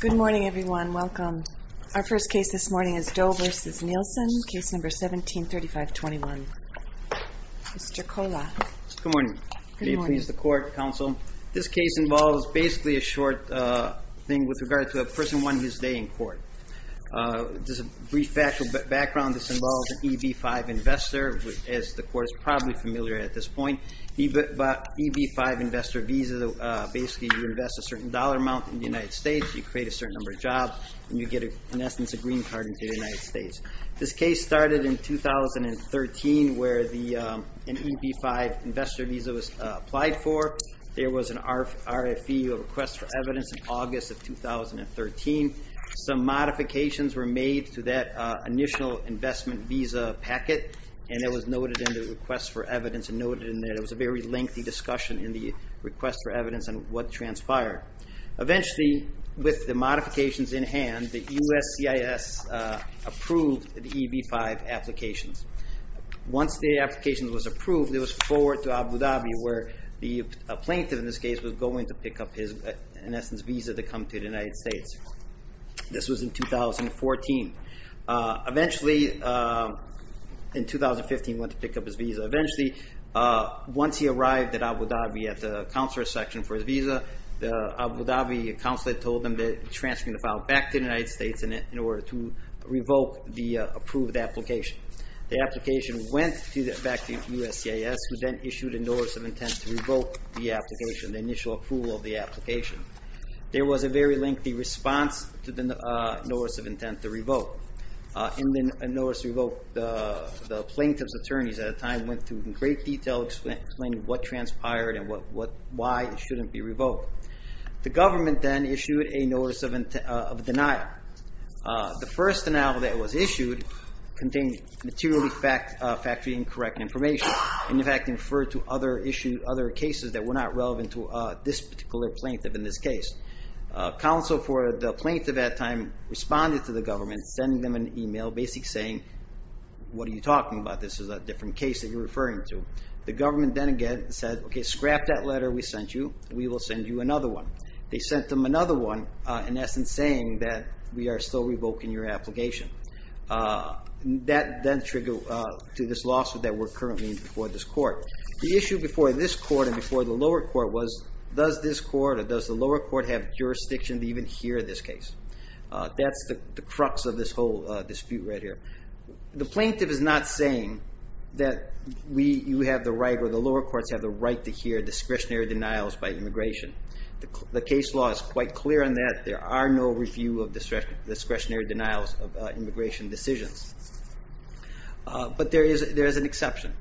Good morning, everyone. Welcome. Our first case this morning is Doe v. Nielsen, case number 1735-21. Mr. Kola. Good morning. Will you please the court, counsel? This case involves basically a short thing with regard to a person who won his day in court. Just a brief background. This involves an EB-5 investor, as the court is probably familiar at this point. EB-5 investor visa, basically you invest a certain dollar amount in the United States, you create a certain number of jobs, and you get in essence a green card into the United States. This case started in 2013, where an EB-5 investor visa was applied for. There was an RFE, a request for evidence, in August of 2013. Some modifications were made to that initial investment visa packet, and it was noted in the request for evidence, and noted in there, there was a very lengthy discussion in the request for evidence on what transpired. Eventually, with the modifications in hand, the USCIS approved the EB-5 applications. Once the application was approved, it was forwarded to Abu Dhabi, where the plaintiff in this case was going to pick up his, in essence, visa to come to the United States. This was in 2014. Eventually, in 2015, he went to pick up his visa. Eventually, once he arrived at Abu Dhabi at the counselor section for his visa, the Abu Dhabi counselor told him that he was transferring the file back to the United States in order to revoke the approved application. The application went back to USCIS, who then issued a notice of intent to revoke the application, the initial approval of the application. There was a very lengthy response to the notice of intent to revoke. In the notice of intent to revoke, the plaintiff's attorneys at the time went through in great detail explaining what transpired and why it shouldn't be revoked. The government then issued a notice of denial. The first denial that was issued contained materially factually incorrect information, and in fact, it referred to other cases that were not relevant to this particular plaintiff in this case. Counsel for the plaintiff at the time responded to the government, sending them an email basically saying, what are you talking about? This is a different case that you're referring to. The government then again said, okay, scrap that letter we sent you. We will send you another one. They sent them another one, in essence, saying that we are still revoking your application. That then triggered to this lawsuit that we're currently in before this court. The issue before this court and before the lower court was, does this court or does the lower court have jurisdiction to even hear this case? That's the crux of this whole dispute right here. The plaintiff is not saying that you have the right or the lower courts have the right to hear discretionary denials by immigration. The case law is quite clear on that. There are no review of discretionary denials of immigration decisions. But there is an exception,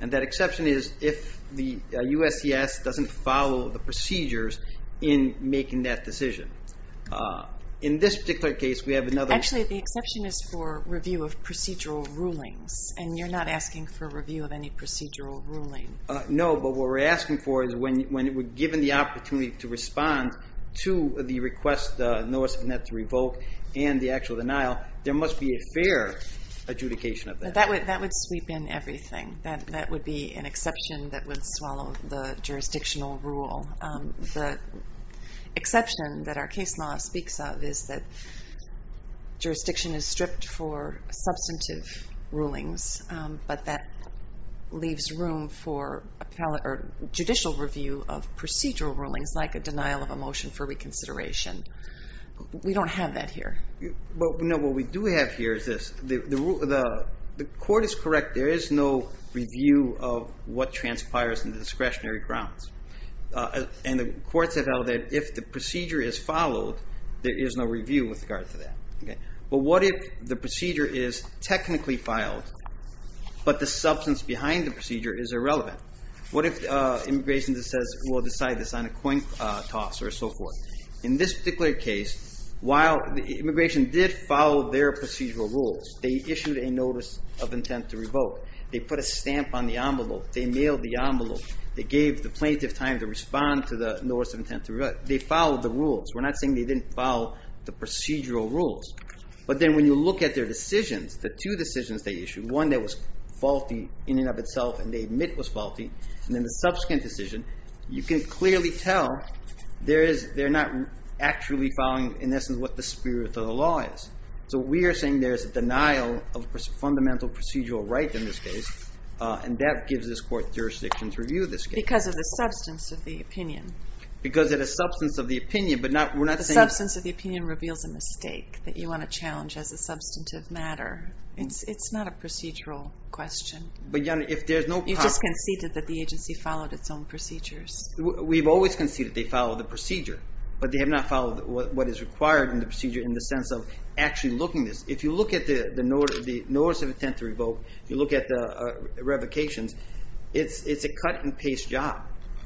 and that exception is if the USCS doesn't follow the procedures in making that decision. In this particular case, we have another- Actually, the exception is for review of procedural rulings, and you're not asking for review of any procedural ruling. No, but what we're asking for is when we're given the opportunity to respond to the request, the notice of an act to revoke and the actual denial, there must be a fair adjudication of that. That would sweep in everything. That would be an exception that would swallow the jurisdictional rule. The exception that our case law speaks of is that jurisdiction is stripped for substantive rulings, but that leaves room for judicial review of procedural rulings like a denial of a motion for reconsideration. We don't have that here. But what we do have here is this. The court is correct. There is no review of what transpires in the discretionary grounds. And the courts have held that if the procedure is followed, there is no review with regard to that. But what if the procedure is technically filed, but the substance behind the procedure is irrelevant? What if immigration just says, we'll decide this on a coin toss or so forth? In this particular case, while immigration did follow their procedural rules, they issued a notice of intent to revoke. They put a stamp on the envelope. They mailed the envelope. They gave the plaintiff time to respond to the notice of intent to revoke. They followed the rules. We're not saying they didn't follow the procedural rules. But then when you look at their decisions, the two decisions they issued, one that was faulty in and of itself and they admit was faulty, and then the subsequent decision, you can clearly tell they're not actually following, in essence, what the spirit of the law is. So we are saying there's a denial of fundamental procedural rights in this case. And that gives this court jurisdiction to review this case. Because of the substance of the opinion. Because of the substance of the opinion, but we're not saying... The substance of the opinion reveals a mistake that you want to challenge as a substantive matter. It's not a procedural question. You just conceded that the agency followed its own procedures. We've always conceded they followed the procedure. But they have not followed what is required in the procedure in the sense of actually looking at this. If you look at the notice of intent to revoke, if you look at the revocations, it's a cut and paste job.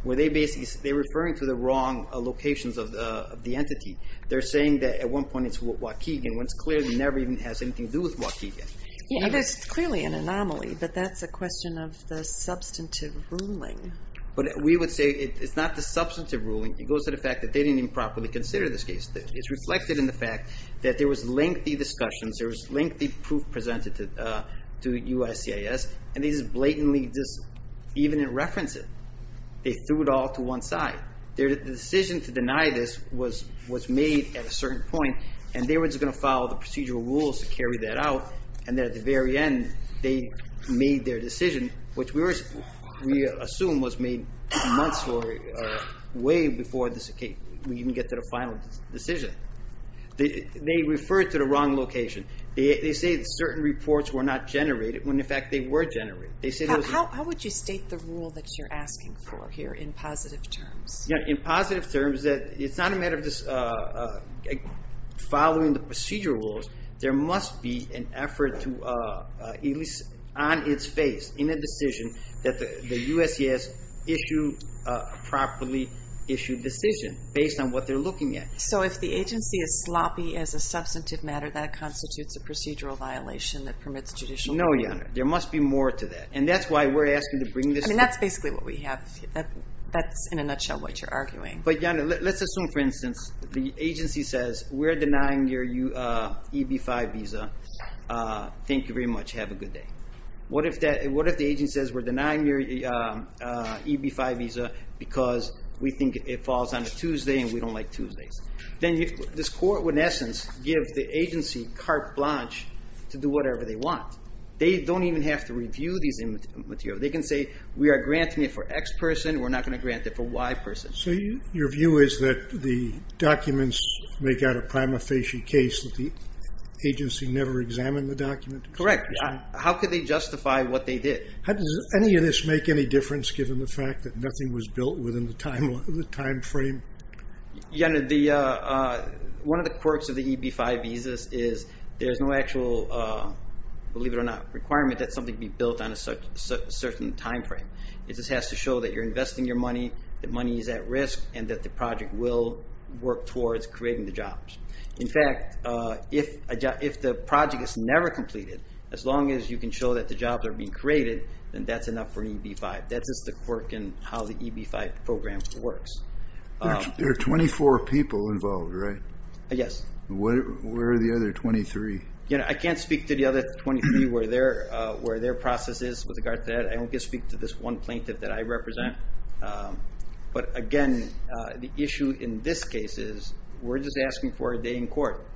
They're referring to the wrong locations of the entity. They're saying that at one point it's Waukegan. When it's clear it never even has anything to do with Waukegan. Yeah, that's clearly an anomaly. But that's a question of the substantive ruling. But we would say it's not the substantive ruling. It goes to the fact that they didn't even properly consider this case. It's reflected in the fact that there was lengthy discussions. There was lengthy proof presented to USCIS. And these blatantly, even in reference, they threw it all to one side. Their decision to deny this was made at a certain point. And they were just going to follow the procedural rules to carry that out. And then at the very end, they made their decision, which we assume was made months or way before we even get to the final decision. They referred to the wrong location. They say that certain reports were not generated when, in fact, they were generated. How would you state the rule that you're asking for here in positive terms? Yeah, in positive terms, that it's not a matter of just following the procedural rules. There must be an effort to, at least on its face, in a decision that the USCIS issued a properly issued decision based on what they're looking at. So if the agency is sloppy as a substantive matter, that constitutes a procedural violation that permits judicial review? No, Jana. There must be more to that. And that's why we're asking to bring this. I mean, that's basically what we have. That's, in a nutshell, what you're arguing. But Jana, let's assume, for instance, the agency says, we're denying your EB-5 visa. Thank you very much. Have a good day. What if the agency says, we're denying your EB-5 visa because we think it falls on a Tuesday and we don't like Tuesdays? Then this court would, in essence, give the agency carte blanche to do whatever they want. They don't even have to review these materials. They can say, we are granting it for X person. We're not going to grant it for Y person. So your view is that the documents make out a prima facie case that the agency never examined the document? Correct. How could they justify what they did? How does any of this make any difference, given the fact that nothing was built within the time frame? Jana, one of the quirks of the EB-5 visas is there's no actual, believe it or not, requirement that something be built on a certain time frame. It just has to show that you're investing your money, that money is at risk, and that the project will work towards creating the jobs. In fact, if the project is never completed, as long as you can show that the jobs are being created, then that's enough for EB-5. That's just the quirk in how the EB-5 program works. There are 24 people involved, right? Yes. Where are the other 23? I can't speak to the other 23 where their process is with regard to that. I don't get to speak to this one plaintiff that I represent. But again, the issue in this case is, we're just asking for a day in court.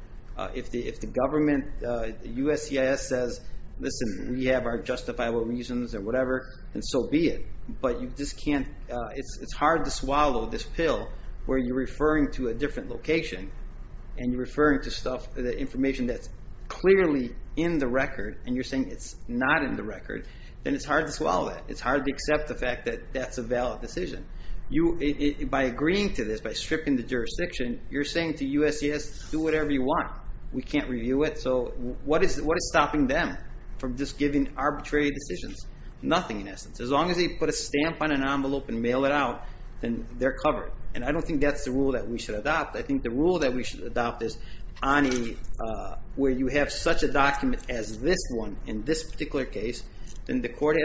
If the government, USCIS says, listen, we have our justifiable reasons or whatever, and so be it. But you just can't, it's hard to swallow this pill where you're referring to a different location, and you're referring to stuff, the information that's clearly in the record, and you're saying it's not in the record, then it's hard to swallow that. It's hard to accept the fact that that's a valid decision. By agreeing to this, by stripping the jurisdiction, you're saying to USCIS, do whatever you want. We can't review it. So what is stopping them from just giving arbitrary decisions? Nothing, in essence. As long as they put a stamp on an envelope and mail it out, then they're covered. And I don't think that's the rule that we should adopt. I think the rule that we should adopt is, where you have such a document as this one in this particular case, And the plaintiff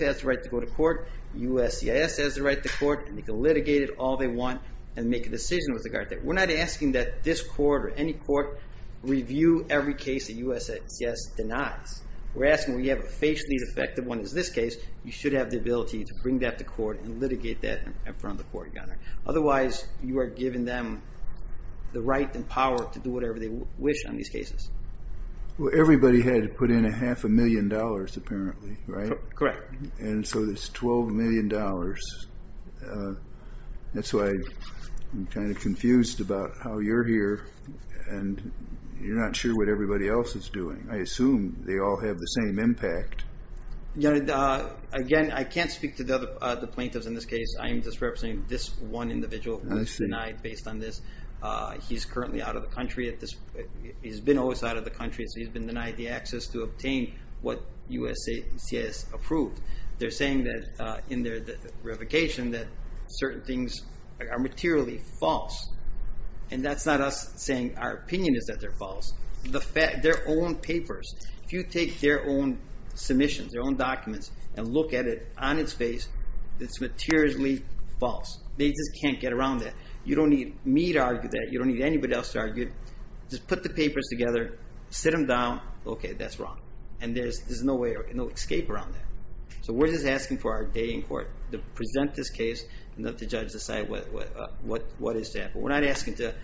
has the right to go to court. USCIS has the right to court. And they can litigate it all they want and make a decision with regard to it. We're not asking that this court or any court review every case that USCIS denies. We're asking when you have a facially defective one as this case, you should have the ability to bring that to court and litigate that in front of the court, Your Honor. Otherwise, you are giving them the right and power to do whatever they wish on these cases. Well, everybody had to put in a half a million dollars apparently, right? Correct. And so it's $12 million. That's why I'm kind of confused about how you're here and you're not sure what everybody else is doing. I assume they all have the same impact. Again, I can't speak to the plaintiffs in this case. I'm just representing this one individual who's denied based on this. He's currently out of the country. He's been always out of the country. So he's been denied the access to obtain what USCIS approved. They're saying that in their verification that certain things are materially false. And that's not us saying our opinion is that they're false. The fact their own papers, if you take their own submissions, their own documents and look at it on its face, it's materially false. They just can't get around that. You don't need me to argue that. You don't need anybody else to argue. Just put the papers together, sit them down. Okay, that's wrong. And there's no way or no escape around that. We're just asking for our day in court to present this case and let the judge decide what is to happen. We're not asking to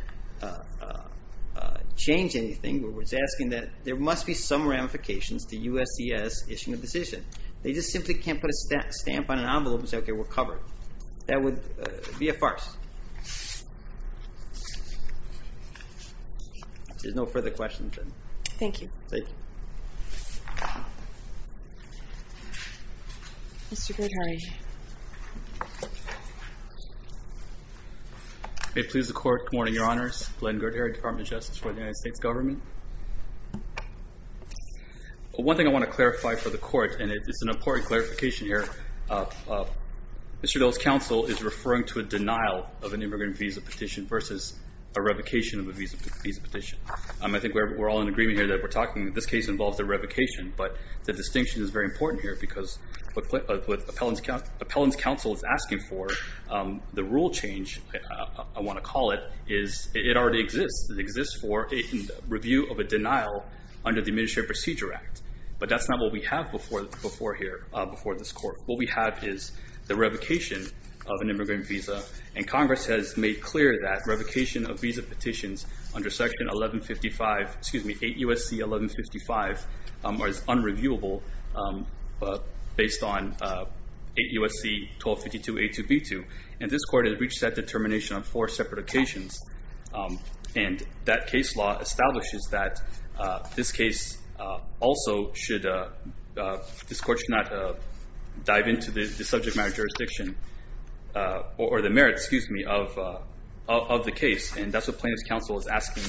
change anything. We're just asking that there must be some ramifications to USCIS issuing a decision. They just simply can't put a stamp on an envelope and say, okay, we're covered. That would be a farce. There's no further questions. Thank you. Thank you. Mr. Girdhary. May it please the court. Good morning, your honors. Glenn Girdhary, Department of Justice for the United States government. One thing I want to clarify for the court, and it's an important clarification here. Mr. Dole's counsel is referring to a denial of an immigrant visa petition versus a revocation of a visa petition. I think we're all in agreement here that we're talking that this case involves a revocation. But the distinction is very important here because what Appellant's counsel is asking for, the rule change, I want to call it, it already exists. It exists for a review of a denial under the Administrative Procedure Act. But that's not what we have before here, before this court. What we have is the revocation of an immigrant visa. And Congress has made clear that revocation of visa petitions under section 1155, excuse me, 8 U.S.C. 1155 are as unreviewable based on 8 U.S.C. 1252A2B2. And this court has reached that determination on four separate occasions. And that case law establishes that this case also should, this court should not dive into the subject matter jurisdiction or the merits, excuse me, of the case. And that's what Plaintiff's counsel is asking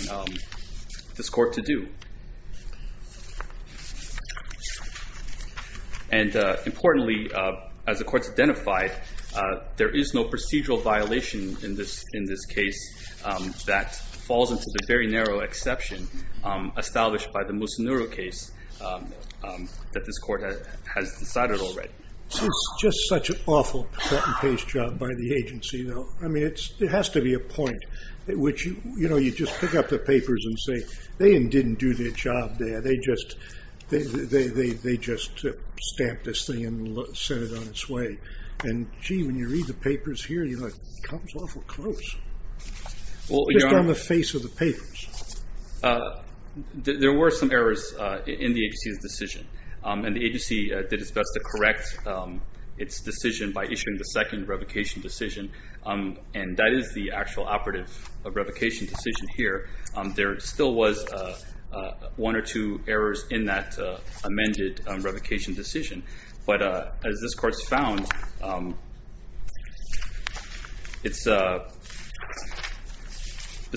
this court to do. And importantly, as the court's identified, there is no procedural violation in this case that falls into the very narrow exception established by the Musonuro case that this court has decided already. It's just such an awful patent-based job by the agency, though. I mean, it has to be a point. Which, you know, you just pick up the papers and say, they didn't do their job there. They just stamped this thing and sent it on its way. And, gee, when you read the papers here, you're like, it comes awful close. Well, you're on the face of the papers. There were some errors in the agency's decision. And the agency did its best to correct its decision by issuing the second revocation decision. And that is the actual operative revocation decision here. There still was one or two errors in that amended revocation decision. But as this court's found, this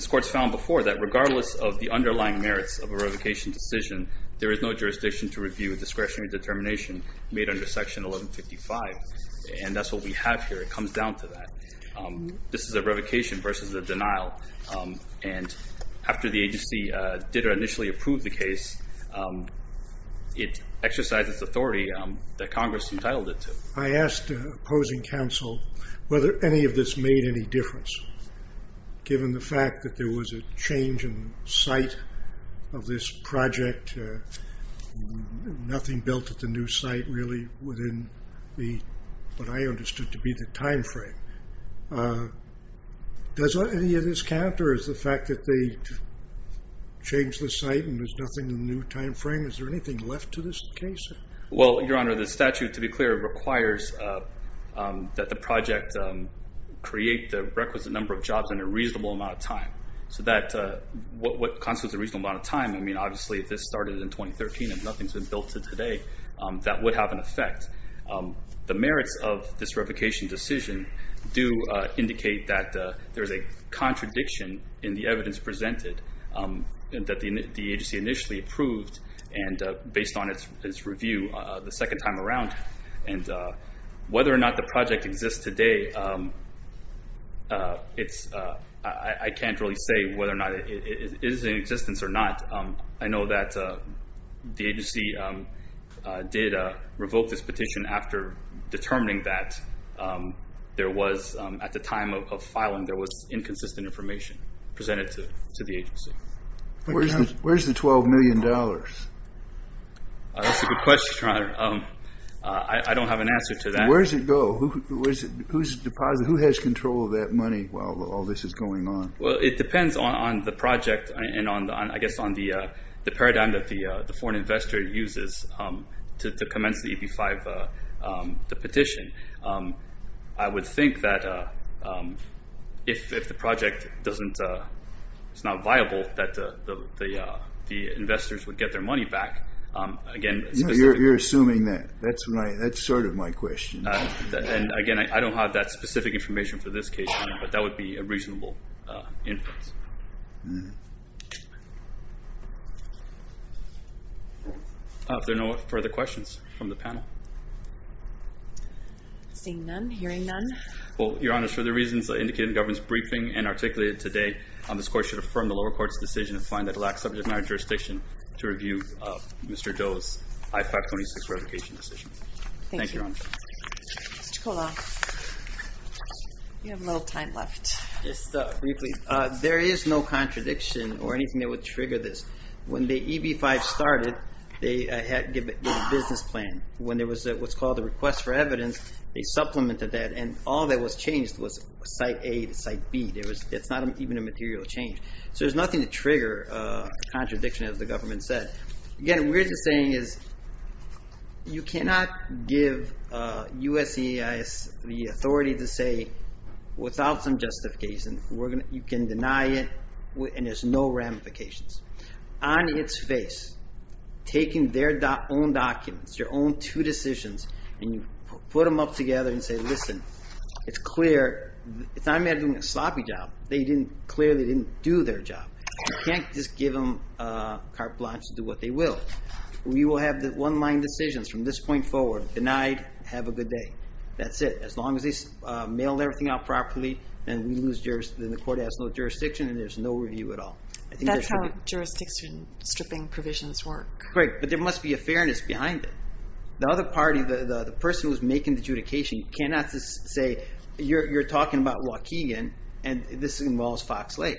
court's found before that regardless of the underlying merits of a revocation decision, there is no jurisdiction to review discretionary determination made under Section 1155. And that's what we have here. It comes down to that. This is a revocation versus a denial. And after the agency did or initially approved the case, it exercised its authority that Congress entitled it to. I asked opposing counsel whether any of this made any difference, given the fact that there was a change in site of this project. Nothing built at the new site, really, within what I understood to be the time frame. Does any of this count, or is the fact that they changed the site and there's nothing in the new time frame? Is there anything left to this case? Well, Your Honor, the statute, to be clear, requires that the project create the requisite number of jobs in a reasonable amount of time. So that what constitutes a reasonable amount of time, I mean, obviously, if this started in 2013, if nothing's been built to today, that would have an effect. The merits of this revocation decision do indicate that there's a contradiction in the evidence presented that the agency initially approved and based on its review the second time around. And whether or not the project exists today, I can't really say whether or not it is in existence or not. I know that the agency did revoke this petition after determining that there was, at the time of filing, there was inconsistent information presented to the agency. Where's the $12 million? That's a good question, Your Honor. I don't have an answer to that. Where does it go? Who has control of that money while all this is going on? Well, it depends on the project and, I guess, on the paradigm that the foreign investor uses to commence the EB-5 petition. I would think that if the project doesn't, it's not viable, that the investors would get their money back. Again, you're assuming that. That's right. That's sort of my question. And again, I don't have that specific information for this case, but that would be a reasonable inference. Hmm. Are there no further questions from the panel? Seeing none. Hearing none. Well, Your Honor, for the reasons indicated in the government's briefing and articulated today, this court should affirm the lower court's decision to find that it lacks subject matter jurisdiction to review Mr. Doe's I-526 revocation decision. Thank you, Your Honor. Mr. Kola, you have a little time left. Just briefly. There is no contradiction or anything that would trigger this. When the EB-5 started, they had to give a business plan. When there was what's called a request for evidence, they supplemented that, and all that was changed was site A to site B. It's not even a material change. So there's nothing to trigger a contradiction, as the government said. Again, what we're just saying is, you cannot give USEIS the authority to say, without some justification, you can deny it, and there's no ramifications. On its face, taking their own documents, their own two decisions, and you put them up together and say, listen, it's clear. It's not a matter of doing a sloppy job. They clearly didn't do their job. You can't just give them carte blanche to do what they will. We will have the one-line decisions from this point forward. Denied, have a good day. That's it. As long as they mail everything out properly, then the court has no jurisdiction, and there's no review at all. I think that's how jurisdiction stripping provisions work. Right. But there must be a fairness behind it. The other party, the person who's making the adjudication, cannot just say, you're talking about Waukegan, and this involves Fox Lake.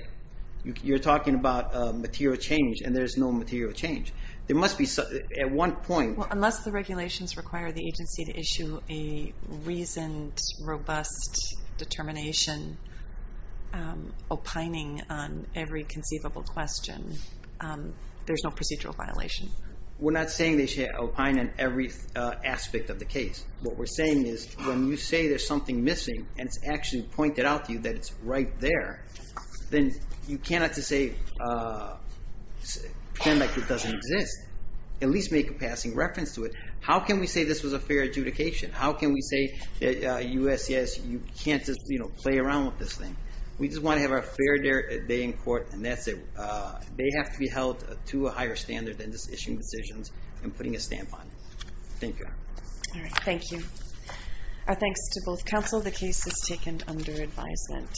You're talking about material change, and there's no material change. There must be, at one point- Unless the regulations require the agency to issue a reasoned, robust determination, opining on every conceivable question, there's no procedural violation. We're not saying they should opine on every aspect of the case. What we're saying is, when you say there's something missing, and it's actually pointed out to you that it's right there, then you cannot just say, pretend like it doesn't exist. At least make a passing reference to it. How can we say this was a fair adjudication? How can we say that USCIS, you can't just play around with this thing? We just want to have a fair day in court, and that's it. They have to be held to a higher standard than just issuing decisions and putting a stamp on it. Thank you. All right. Thank you. Our thanks to both counsel. The case is taken under advisement.